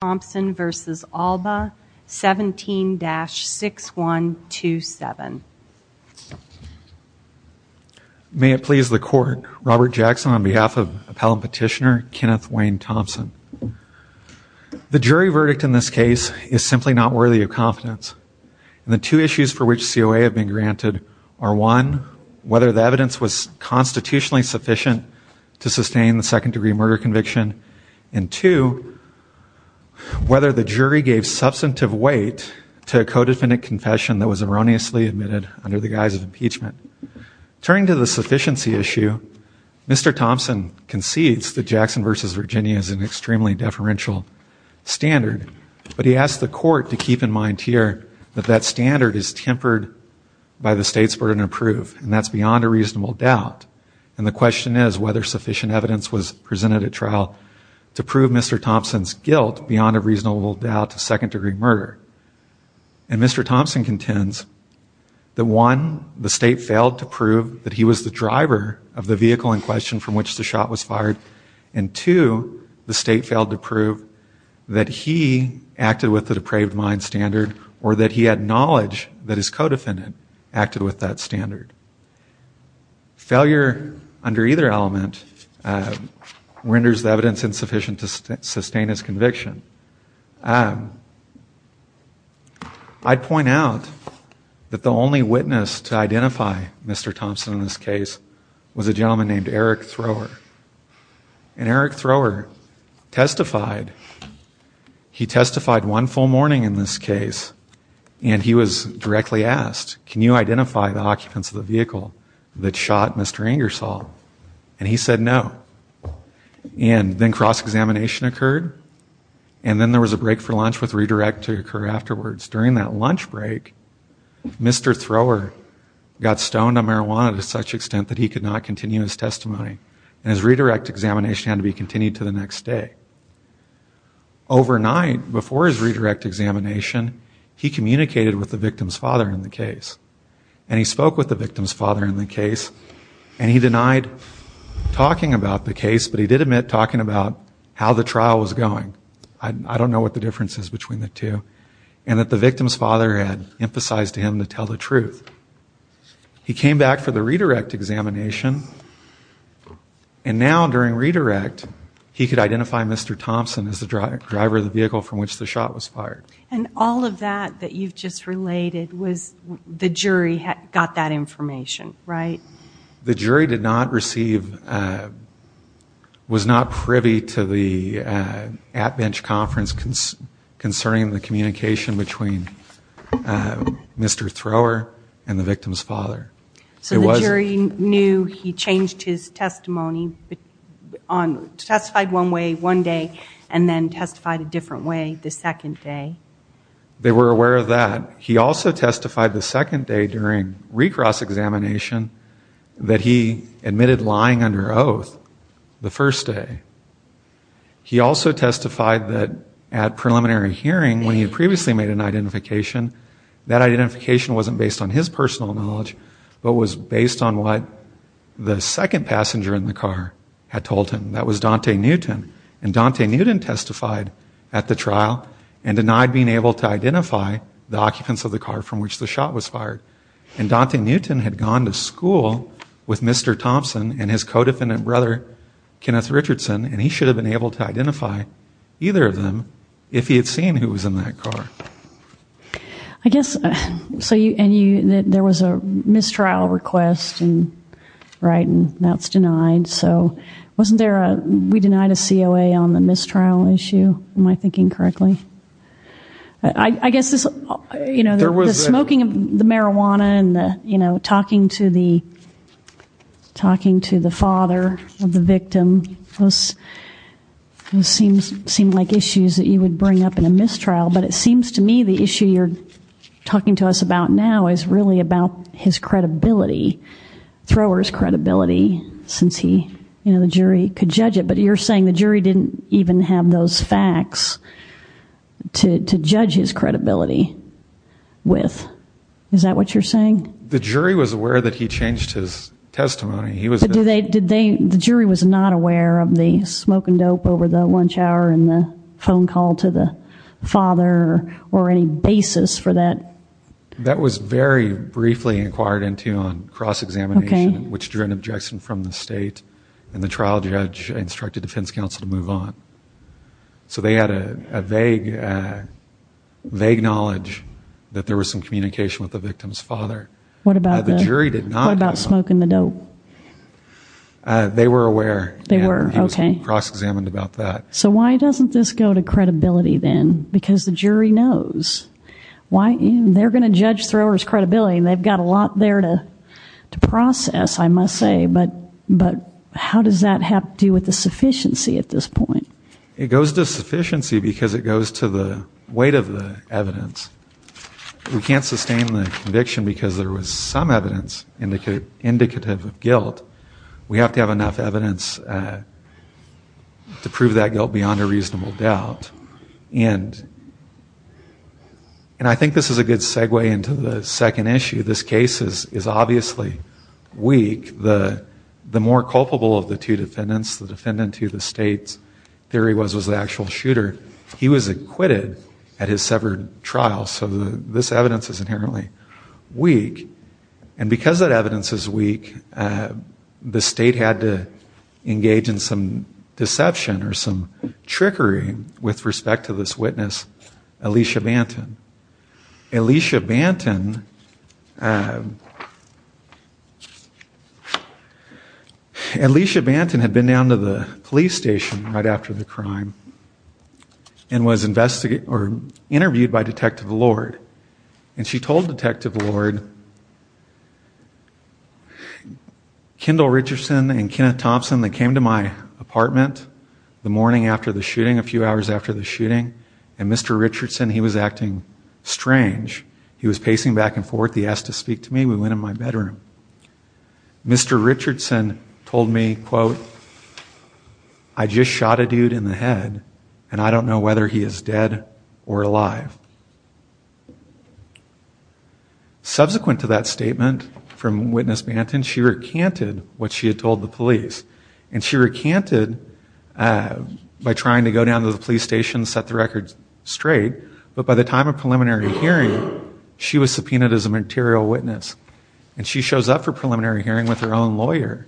Thompson v. Allbaugh 17-6127. May it please the court, Robert Jackson on behalf of appellant petitioner Kenneth Wayne Thompson. The jury verdict in this case is simply not worthy of confidence. The two issues for which COA have been granted are one, whether the evidence was constitutionally sufficient to prove whether the jury gave substantive weight to a co-defendant confession that was erroneously admitted under the guise of impeachment. Turning to the sufficiency issue, Mr. Thompson concedes that Jackson v. Virginia is an extremely deferential standard, but he asked the court to keep in mind here that that standard is tempered by the state's burden of proof, and that's beyond a reasonable doubt. And the question is whether sufficient evidence was presented at trial to prove Mr. Thompson's guilt beyond a reasonable doubt of second-degree murder. And Mr. Thompson contends that one, the state failed to prove that he was the driver of the vehicle in question from which the shot was fired, and two, the state failed to prove that he acted with the depraved mind standard or that he had knowledge that his co-defendant acted with that standard. Failure under either element renders the evidence insufficient to sustain his conviction. I'd point out that the only witness to identify Mr. Thompson in this case was a gentleman named Eric Thrower, and Eric Thrower testified. He testified one full morning in this case, and he was directly asked, can you identify the occupants of the vehicle that shot Mr. Ingersoll? And he said no. And then cross-examination occurred, and then there was a break for lunch with redirect to occur afterwards. During that lunch break, Mr. Thrower got stoned on marijuana to such extent that he could not continue his testimony, and his redirect examination had to be continued to the next day. Overnight before his redirect examination, he communicated with the victim's father in the case, and he spoke with the victim's father in the case, and he denied talking about the case, but he did admit talking about how the trial was going. I don't know what the difference is between the two, and that the victim's father had emphasized to him to tell the truth. He came back for the redirect examination, and now during redirect, he could identify Mr. Thompson as the driver of the vehicle from which the shot was fired. And all of that that you've just related was the jury got that information, right? The jury did not receive, was not privy to the at-bench conference concerning the communication between Mr. Thrower and the victim's father. So the jury knew he changed his testimony, testified one way one day, and then testified a He also testified the second day during recross examination that he admitted lying under oath the first day. He also testified that at preliminary hearing when he previously made an identification, that identification wasn't based on his personal knowledge, but was based on what the second passenger in the car had told him. That was Dante Newton, and Dante Newton testified at the car from which the shot was fired. And Dante Newton had gone to school with Mr. Thompson and his co-defendant brother Kenneth Richardson, and he should have been able to identify either of them if he had seen who was in that car. I guess so you and you that there was a mistrial request and right and that's denied, so wasn't there a we denied a COA on the mistrial issue? Am I smoking of the marijuana and the you know talking to the talking to the father of the victim, those seems seem like issues that you would bring up in a mistrial, but it seems to me the issue you're talking to us about now is really about his credibility, Thrower's credibility, since he you know the jury could judge it, but you're saying the jury didn't even have those facts to judge his credibility with, is that what you're saying? The jury was aware that he changed his testimony. He was do they did they the jury was not aware of the smoking dope over the lunch hour and the phone call to the father or any basis for that? That was very briefly inquired into on cross-examination, which drew an objection from the state, and the trial judge instructed defense counsel to move on. So they had a vague vague knowledge that there was some communication with the victim's father. What about the jury did not know about smoking the dope? They were aware they were okay cross-examined about that. So why doesn't this go to credibility then? Because the jury knows why they're gonna judge Thrower's credibility and they've got a lot there to to process I must say, but but how does that have to do with the sufficiency at this point? It goes to sufficiency because it goes to the weight of the evidence. We can't sustain the conviction because there was some evidence indicate indicative of guilt. We have to have enough evidence to prove that guilt beyond a reasonable doubt and and I think this is a good segue into the second issue. This case is is obviously weak. The the more culpable of the two defendants, the defendant to the state's theory was was the actual shooter. He was acquitted at his severed trial so this evidence is inherently weak and because that evidence is weak the state had to engage in some deception or some trickery with respect to this witness Alicia Banton. Alicia Banton, Alicia Banton had been down to the police station right after the crime and was investigated or interviewed by Detective Lord and she told Detective Lord, Kendall Richardson and Kenneth Thompson that came to my apartment the morning after the shooting, a few hours after the shooting and Mr. Richardson, he was acting strange. He was pacing back and forth. He asked to speak to me. We went in my bedroom. Mr. Richardson told me, quote, I just shot a dude in the head and I don't know whether he is dead or alive. Subsequent to that statement from Witness Banton, she recanted what she said by trying to go down to the police station, set the record straight, but by the time of preliminary hearing she was subpoenaed as a material witness and she shows up for preliminary hearing with her own lawyer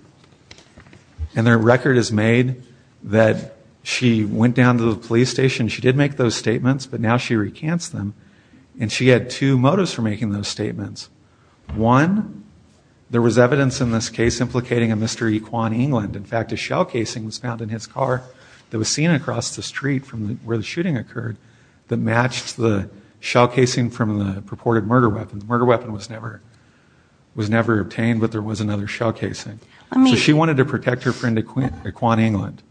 and their record is made that she went down to the police station. She did make those statements but now she recants them and she had two motives for making those statements. One, there was evidence in this case implicating a Mr. Equan England. In fact, a shell casing was found in his car that was seen across the street from where the shooting occurred that matched the shell casing from the purported murder weapon. The murder weapon was never was never obtained but there was another shell casing. She wanted to protect her friend Equan England.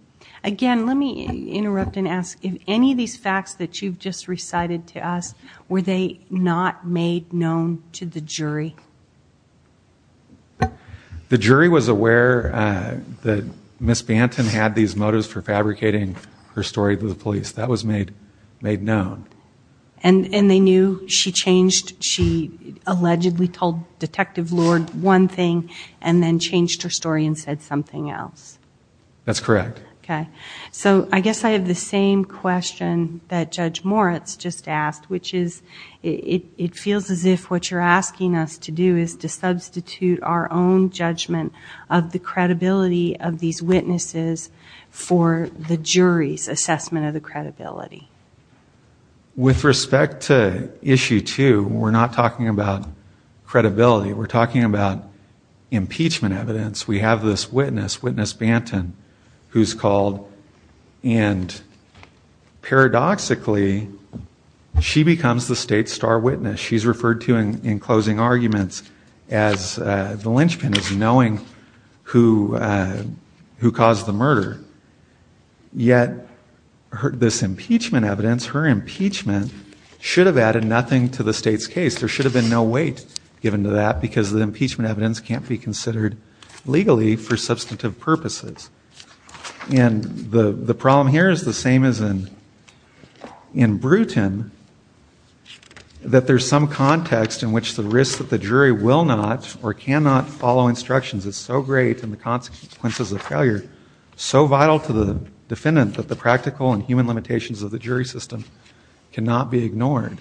Again, let me interrupt and ask if any of these facts that you've just recited to us, were they not made known to the jury? The jury was aware that Miss Banton had these motives for fabricating her story to the police. That was made known. And they knew she changed, she allegedly told Detective Lord one thing and then changed her story and said something else? That's correct. Okay, so I guess I have the same question that Judge Moritz just asked, which is, it feels as if what you're asking us to do is to substitute our own judgment of the credibility of these witnesses for the jury's assessment of the credibility. With respect to issue two, we're not talking about credibility. We're talking about impeachment evidence. We have this witness, Witness Banton, who's called and paradoxically, she becomes the state's star witness. She's referred to in closing arguments as the linchpin, as knowing who caused the murder. Yet this impeachment evidence, her impeachment, should have added nothing to the state's case. There should have been no weight given to that because the impeachment evidence can't be considered legally for substantive purposes. And the problem here is the same as in Bruton, that there's some context in which the risk that the jury will not or cannot follow instructions is so great and the consequences of failure so vital to the defendant that the practical and human limitations of the jury system cannot be ignored.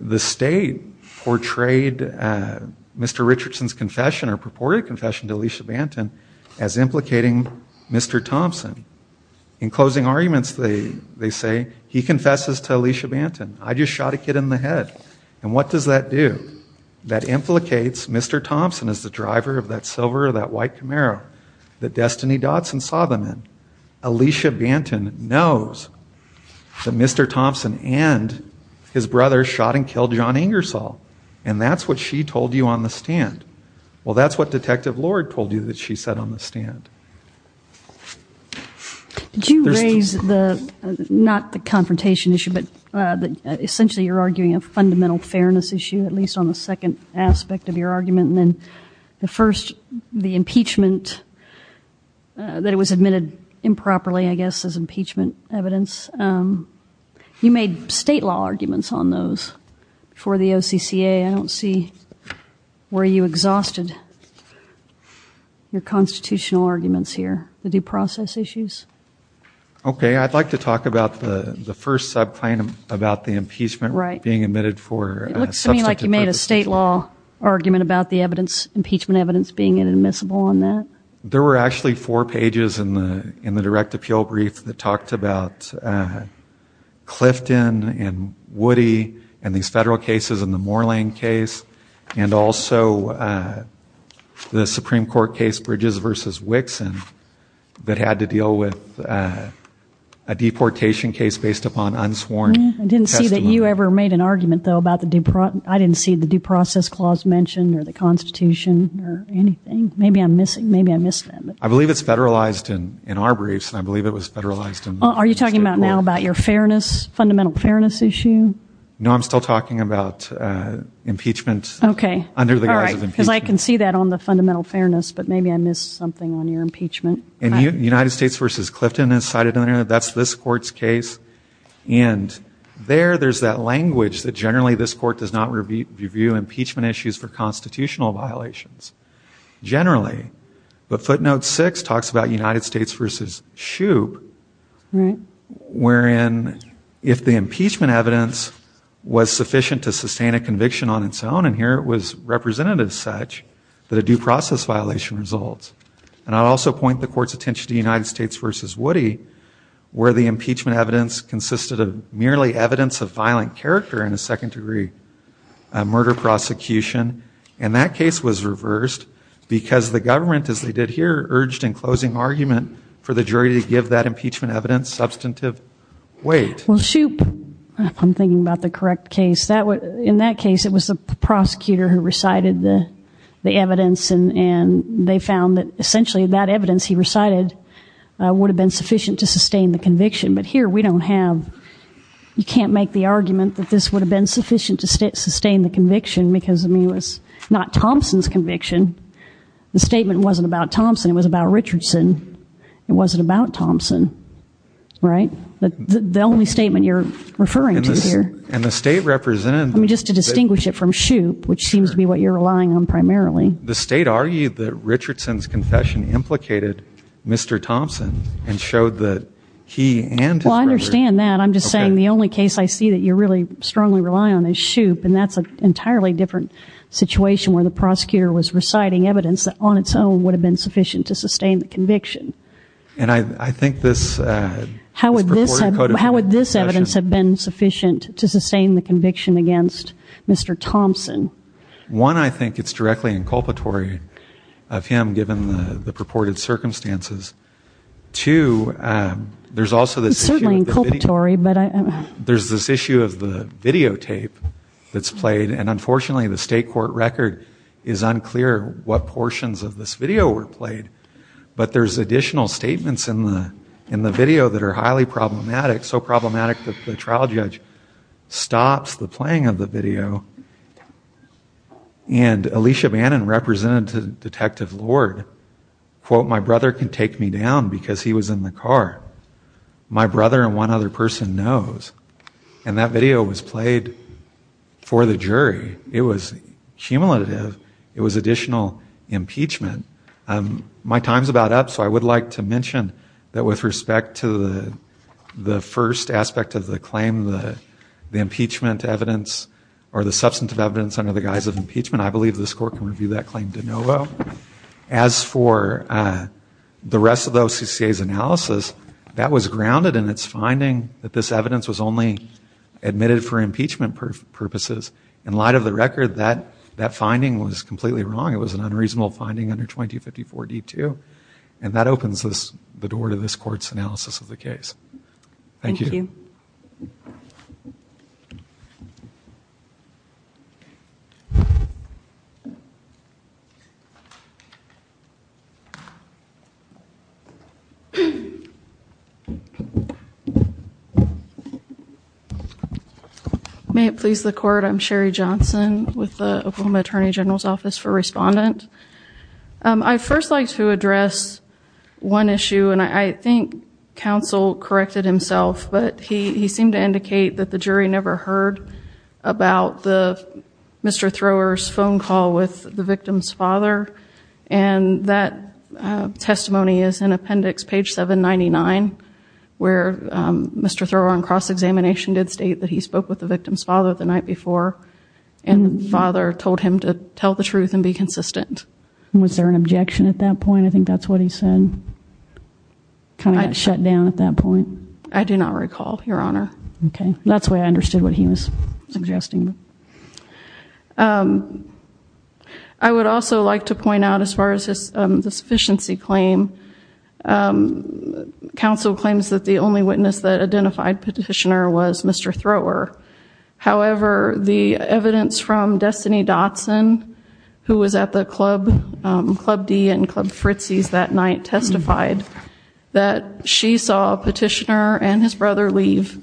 The state portrayed Mr. Richardson's confession or purported confession to Alicia Banton as implicating Mr. Thompson. In closing arguments, they say he confesses to Alicia Banton. I just shot a kid in the head. And what does that do? That implicates Mr. Thompson as the driver of that silver or that white Camaro that Destiny Dotson saw them in. Alicia Banton knows that Mr. Thompson and his brother shot and killed John Ingersoll. And that's what she told you on the stand. Did you raise the, not the confrontation issue, but essentially you're arguing a fundamental fairness issue, at least on the second aspect of your argument. And then the first, the impeachment, that it was admitted improperly, I guess, as impeachment evidence. You made state law arguments on those for the OCCA. I don't see where you exhausted your constitutional arguments here, the due process issues. Okay, I'd like to talk about the the first subclaim about the impeachment. Right. Being admitted for. It looks to me like you made a state law argument about the evidence, impeachment evidence, being inadmissible on that. There were actually four pages in the in the direct appeal brief that talked about Clifton and Woody and these federal cases and the Moorland case and also the Supreme Court case Bridges versus Wixon that had to deal with a deportation case based upon unsworn testimony. I didn't see that you ever made an argument though about the, I didn't see the due process clause mentioned or the Constitution or anything. Maybe I'm missing, maybe I missed that. I believe it's federalized. Are you talking about now about your fairness, fundamental fairness issue? No, I'm still talking about impeachment. Okay. Under the guise of impeachment. Because I can see that on the fundamental fairness, but maybe I missed something on your impeachment. United States versus Clifton is cited in there. That's this court's case and there there's that language that generally this court does not review impeachment issues for constitutional violations. Generally, but footnote six talks about United States versus Shoup wherein if the impeachment evidence was sufficient to sustain a conviction on its own and here it was represented as such that a due process violation results. And I'll also point the court's attention to United States versus Woody where the impeachment evidence consisted of merely evidence of violent character in a because the government as they did here urged in closing argument for the jury to give that impeachment evidence substantive weight. Well Shoup, if I'm thinking about the correct case, that would, in that case it was the prosecutor who recited the the evidence and and they found that essentially that evidence he recited would have been sufficient to sustain the conviction. But here we don't have, you can't make the argument that this would have been sufficient to sustain the conviction because I mean it was not Thompson's conviction. The statement wasn't about Thompson, it was about Richardson. It wasn't about Thompson, right? But the only statement you're referring to here. And the state represented. I mean just to distinguish it from Shoup, which seems to be what you're relying on primarily. The state argued that Richardson's confession implicated Mr. Thompson and showed that he and. Well I understand that. I'm just saying the only case I see that you're really strongly rely on is Shoup and that's an entirely different situation where the prosecutor was reciting evidence that on its own would have been sufficient to sustain the conviction. And I think this. How would this evidence have been sufficient to sustain the conviction against Mr. Thompson? One, I think it's directly inculpatory of him given the purported circumstances. Two, there's also this. It's certainly inculpatory but. There's this issue of the videotape that's on the court record. It's unclear what portions of this video were played. But there's additional statements in the video that are highly problematic. So problematic that the trial judge stops the playing of the video. And Alicia Bannon represented Detective Lord. Quote, my brother can take me down because he was in the car. My brother and one other person knows. And that video was played for the jury. It was cumulative. It was additional impeachment. My time's about up so I would like to mention that with respect to the the first aspect of the claim, the impeachment evidence or the substantive evidence under the guise of impeachment, I believe this court can review that claim de novo. As for the rest of the OCCA's analysis, that was grounded in its finding that this purposes. In light of the record, that that finding was completely wrong. It was an unreasonable finding under 2254 D2. And that opens this the door to this court's analysis of the case. Thank you. May it please the court. I'm Sherry Johnson with the Oklahoma Attorney General's Office for Respondent. I first like to address one issue and I think counsel corrected himself, but he seemed to indicate that the jury never heard about the Mr. Thrower's phone call with the victim's father. And that testimony is in appendix page 799 where Mr. Thrower on cross-examination did state that he spoke with the victim's father the night before and the father told him to tell the truth and be consistent. Was there an objection at that point? I think that's what he said. Kind of shut down at that point. I do not recall, your honor. Okay, that's the way I understood what he was suggesting. I would also like to point out as far as this sufficiency claim, counsel claims that the only witness that identified petitioner was Mr. Thrower. However, the Fritzes that night testified that she saw a petitioner and his brother leave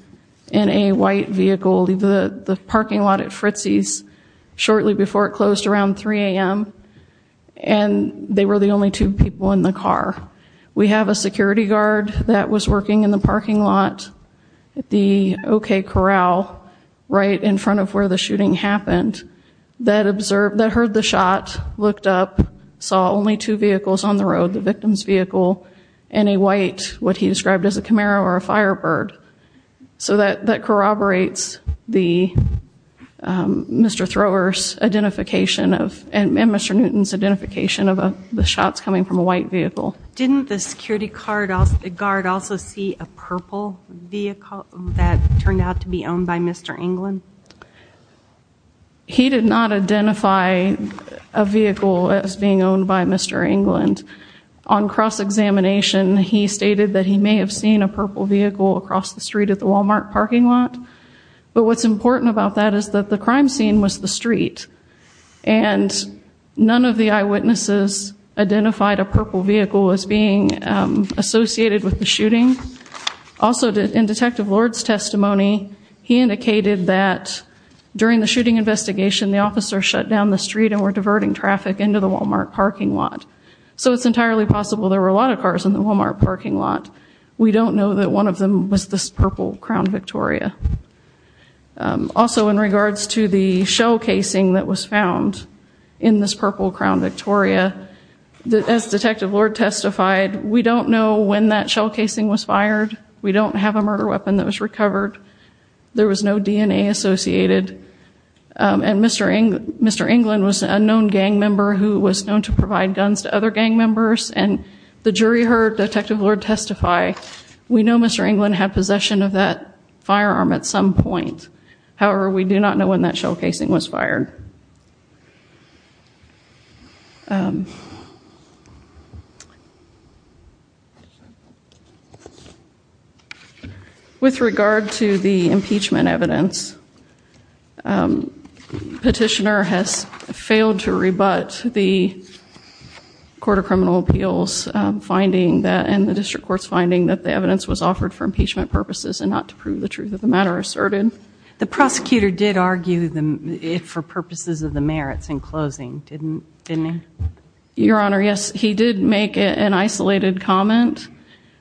in a white vehicle leave the parking lot at Fritzes shortly before it closed around 3 a.m. and they were the only two people in the car. We have a security guard that was working in the parking lot at the OK Corral right in front of where the shooting happened that observed, that heard the shot, looked up, saw only two vehicles on the road, the victim's vehicle, and a white what he described as a Camaro or a Firebird. So that corroborates the Mr. Thrower's identification of and Mr. Newton's identification of the shots coming from a white vehicle. Didn't the security guard also see a purple vehicle that turned out to be owned by Mr. England? He did not identify a vehicle as being owned by Mr. England. On cross-examination, he stated that he may have seen a purple vehicle across the street at the Walmart parking lot, but what's important about that is that the crime scene was the street and none of the eyewitnesses identified a purple vehicle as being associated with the shooting. Also, in Detective Lord's testimony, he indicated that during the shooting investigation, the officer shut down the street and were diverting traffic into the Walmart parking lot. So it's entirely possible there were a lot of cars in the Walmart parking lot. We don't know that one of them was this purple Crown Victoria. Also, in regards to the shell casing that was found in this purple Crown Victoria, as Detective Lord testified, we don't know when that shell casing was fired. We don't have a murder weapon that was recovered. There was no gang member who was known to provide guns to other gang members and the jury heard Detective Lord testify. We know Mr. England had possession of that firearm at some point. However, we do not know when that shell casing was fired. With regard to the impeachment evidence, petitioner has failed to rebut the Court of Criminal Appeals finding that and the District Court's finding that the evidence was offered for impeachment purposes and not to prove the truth of the matter asserted. The prosecutor did argue for purposes of the merits in closing, didn't he? Your Honor, yes, he did make an isolated comment.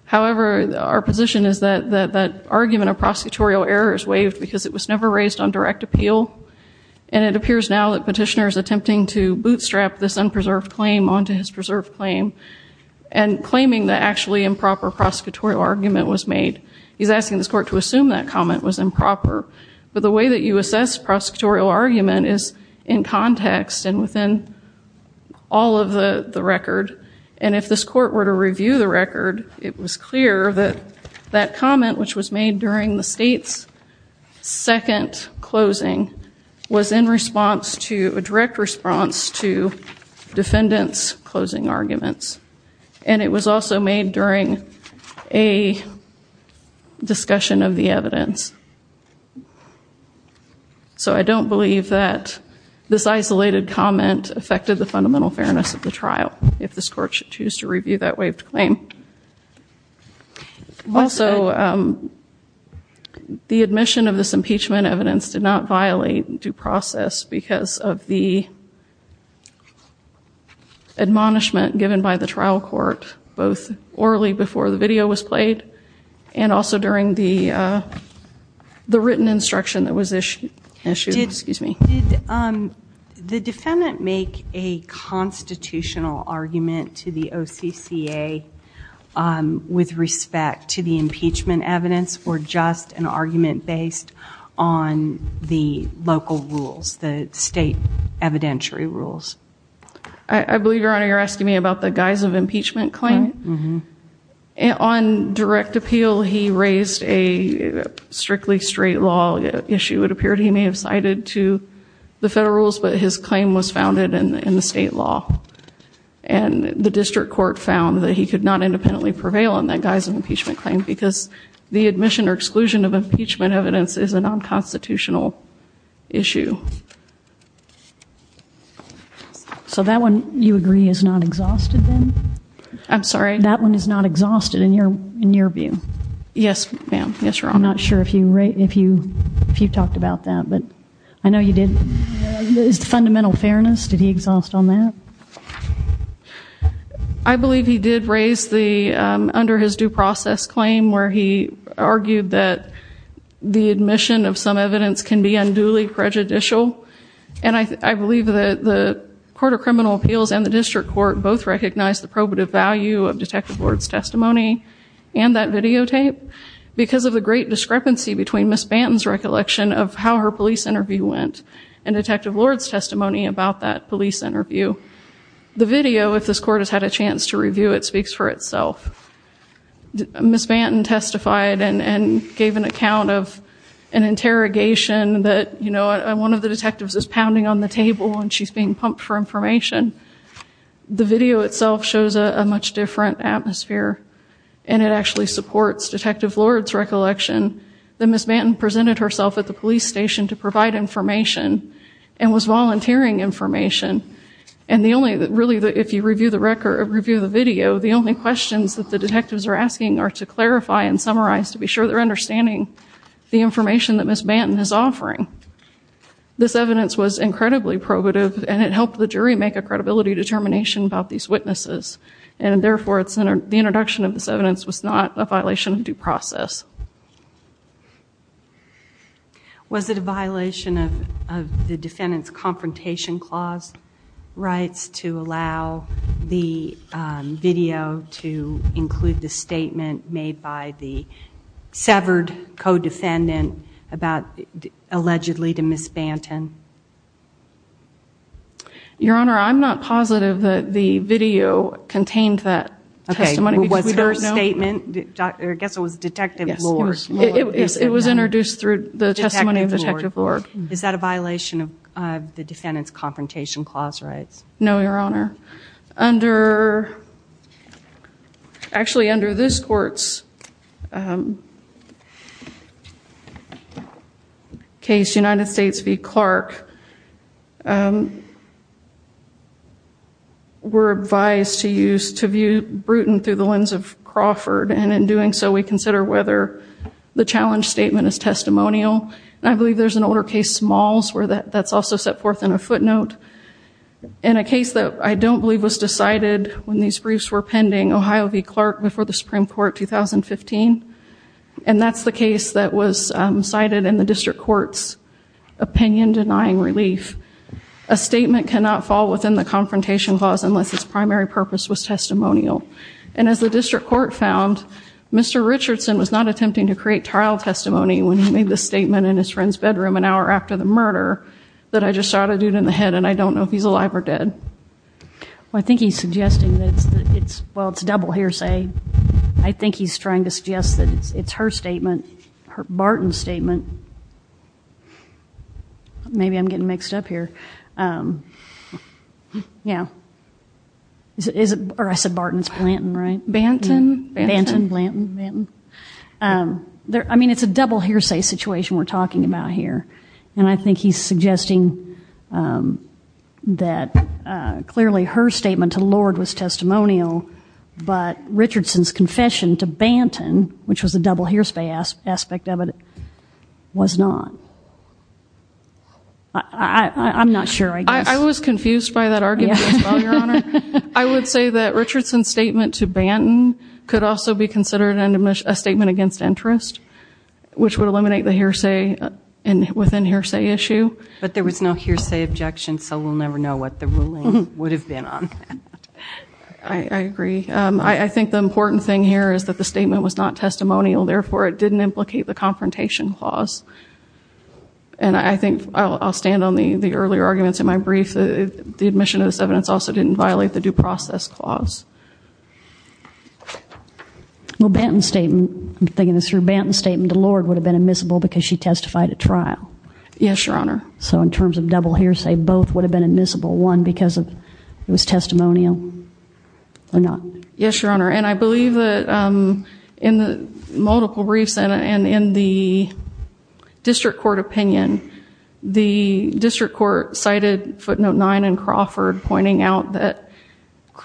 However, our argument of prosecutorial error is waived because it was never raised on direct appeal and it appears now that petitioner is attempting to bootstrap this unpreserved claim onto his preserved claim and claiming that actually improper prosecutorial argument was made. He's asking this court to assume that comment was improper, but the way that you assess prosecutorial argument is in context and within all of the record and if this court were to the state's second closing was in response to a direct response to defendants closing arguments and it was also made during a discussion of the evidence. So I don't believe that this isolated comment affected the fundamental fairness of the trial if this court should choose to review that claim. Also, the admission of this impeachment evidence did not violate due process because of the admonishment given by the trial court both orally before the video was played and also during the the written instruction that was issued. Excuse me. Did the defendant make a constitutional argument to the CCA with respect to the impeachment evidence or just an argument based on the local rules, the state evidentiary rules? I believe your honor you're asking me about the guise of impeachment claim. On direct appeal he raised a strictly straight law issue. It appeared he may have cited to the federal rules but his court found that he could not independently prevail on that guise of impeachment claim because the admission or exclusion of impeachment evidence is a non-constitutional issue. So that one you agree is not exhausted then? I'm sorry? That one is not exhausted in your in your view? Yes ma'am, yes your honor. I'm not sure if you talked about that but I know you did. Is I believe he did raise the under his due process claim where he argued that the admission of some evidence can be unduly prejudicial and I believe that the Court of Criminal Appeals and the District Court both recognized the probative value of Detective Lord's testimony and that videotape because of the great discrepancy between Miss Banton's recollection of how her police interview went and Detective Lord's testimony about that police interview. The video if this court has had a chance to review it speaks for itself. Miss Banton testified and gave an account of an interrogation that you know one of the detectives is pounding on the table and she's being pumped for information. The video itself shows a much different atmosphere and it actually supports Detective Lord's recollection that Miss Banton presented herself at the police station to provide information and was volunteering information and the only that really that if you review the record review the video the only questions that the detectives are asking are to clarify and summarize to be sure they're understanding the information that Miss Banton is offering. This evidence was incredibly probative and it helped the jury make a credibility determination about these witnesses and therefore it's in the introduction of this evidence was not a violation of due process. Was it a defendant's confrontation clause rights to allow the video to include the statement made by the severed co-defendant about allegedly to Miss Banton? Your Honor I'm not positive that the video contained that testimony. Was her statement, I guess it was Detective Lord's. It was introduced through the defendant's confrontation clause rights. No, Your Honor. Under actually under this court's case United States v. Clark we're advised to use to view Bruton through the lens of Crawford and in doing so we consider whether the challenge statement is testimonial. I believe there's an older case Smalls where that's also set forth in a footnote. In a case that I don't believe was decided when these briefs were pending Ohio v. Clark before the Supreme Court 2015 and that's the case that was cited in the district court's opinion denying relief. A statement cannot fall within the confrontation clause unless its primary purpose was testimonial and as the district court found Mr. Richardson was not attempting to create trial testimony when he made the statement in his friend's bedroom an hour after the murder that I just shot a dude in the head and I don't know if he's alive or dead. Well I think he's suggesting that it's well it's double hearsay. I think he's trying to suggest that it's her statement, her Barton statement. Maybe I'm getting mixed up here. Yeah is it or I said Barton it's Blanton right? Banton. I mean it's a double hearsay situation we're talking about here and I think he's suggesting that clearly her statement to Lord was testimonial but Richardson's confession to Banton which was a double hearsay aspect of it was not. I'm not sure. I was confused by that I would say that Richardson's statement to Banton could also be considered an admission a statement against interest which would eliminate the hearsay and within hearsay issue. But there was no hearsay objection so we'll never know what the ruling would have been on. I agree I think the important thing here is that the statement was not testimonial therefore it didn't implicate the confrontation clause and I think I'll stand on the the earlier arguments in my brief the admission of this evidence also didn't violate the due process clause. Well Banton's statement, I'm thinking it's her Banton's statement to Lord would have been admissible because she testified at trial. Yes your honor. So in terms of double hearsay both would have been admissible one because of it was testimonial or not. Yes your honor and I believe that in the multiple briefs and in the district court opinion the district court cited footnote 9 and Crawford pointing out that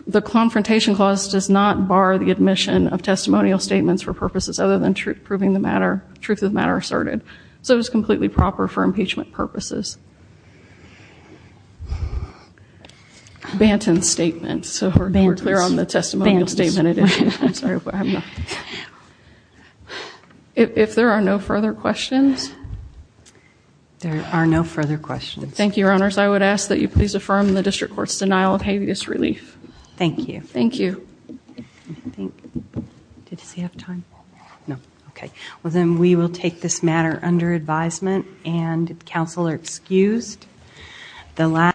the confrontation clause does not bar the admission of testimonial statements for purposes other than truth proving the matter truth of matter asserted. So it was completely proper for impeachment purposes. Banton's statement so we're clear on the testimonial statement. If there are no further questions. There are no further questions. Thank you your honors. I would ask that you please affirm the district courts denial of habeas relief. Thank you. Thank you. Did he have time? No. Okay well then we will take this matter under advisement and counsel are excused.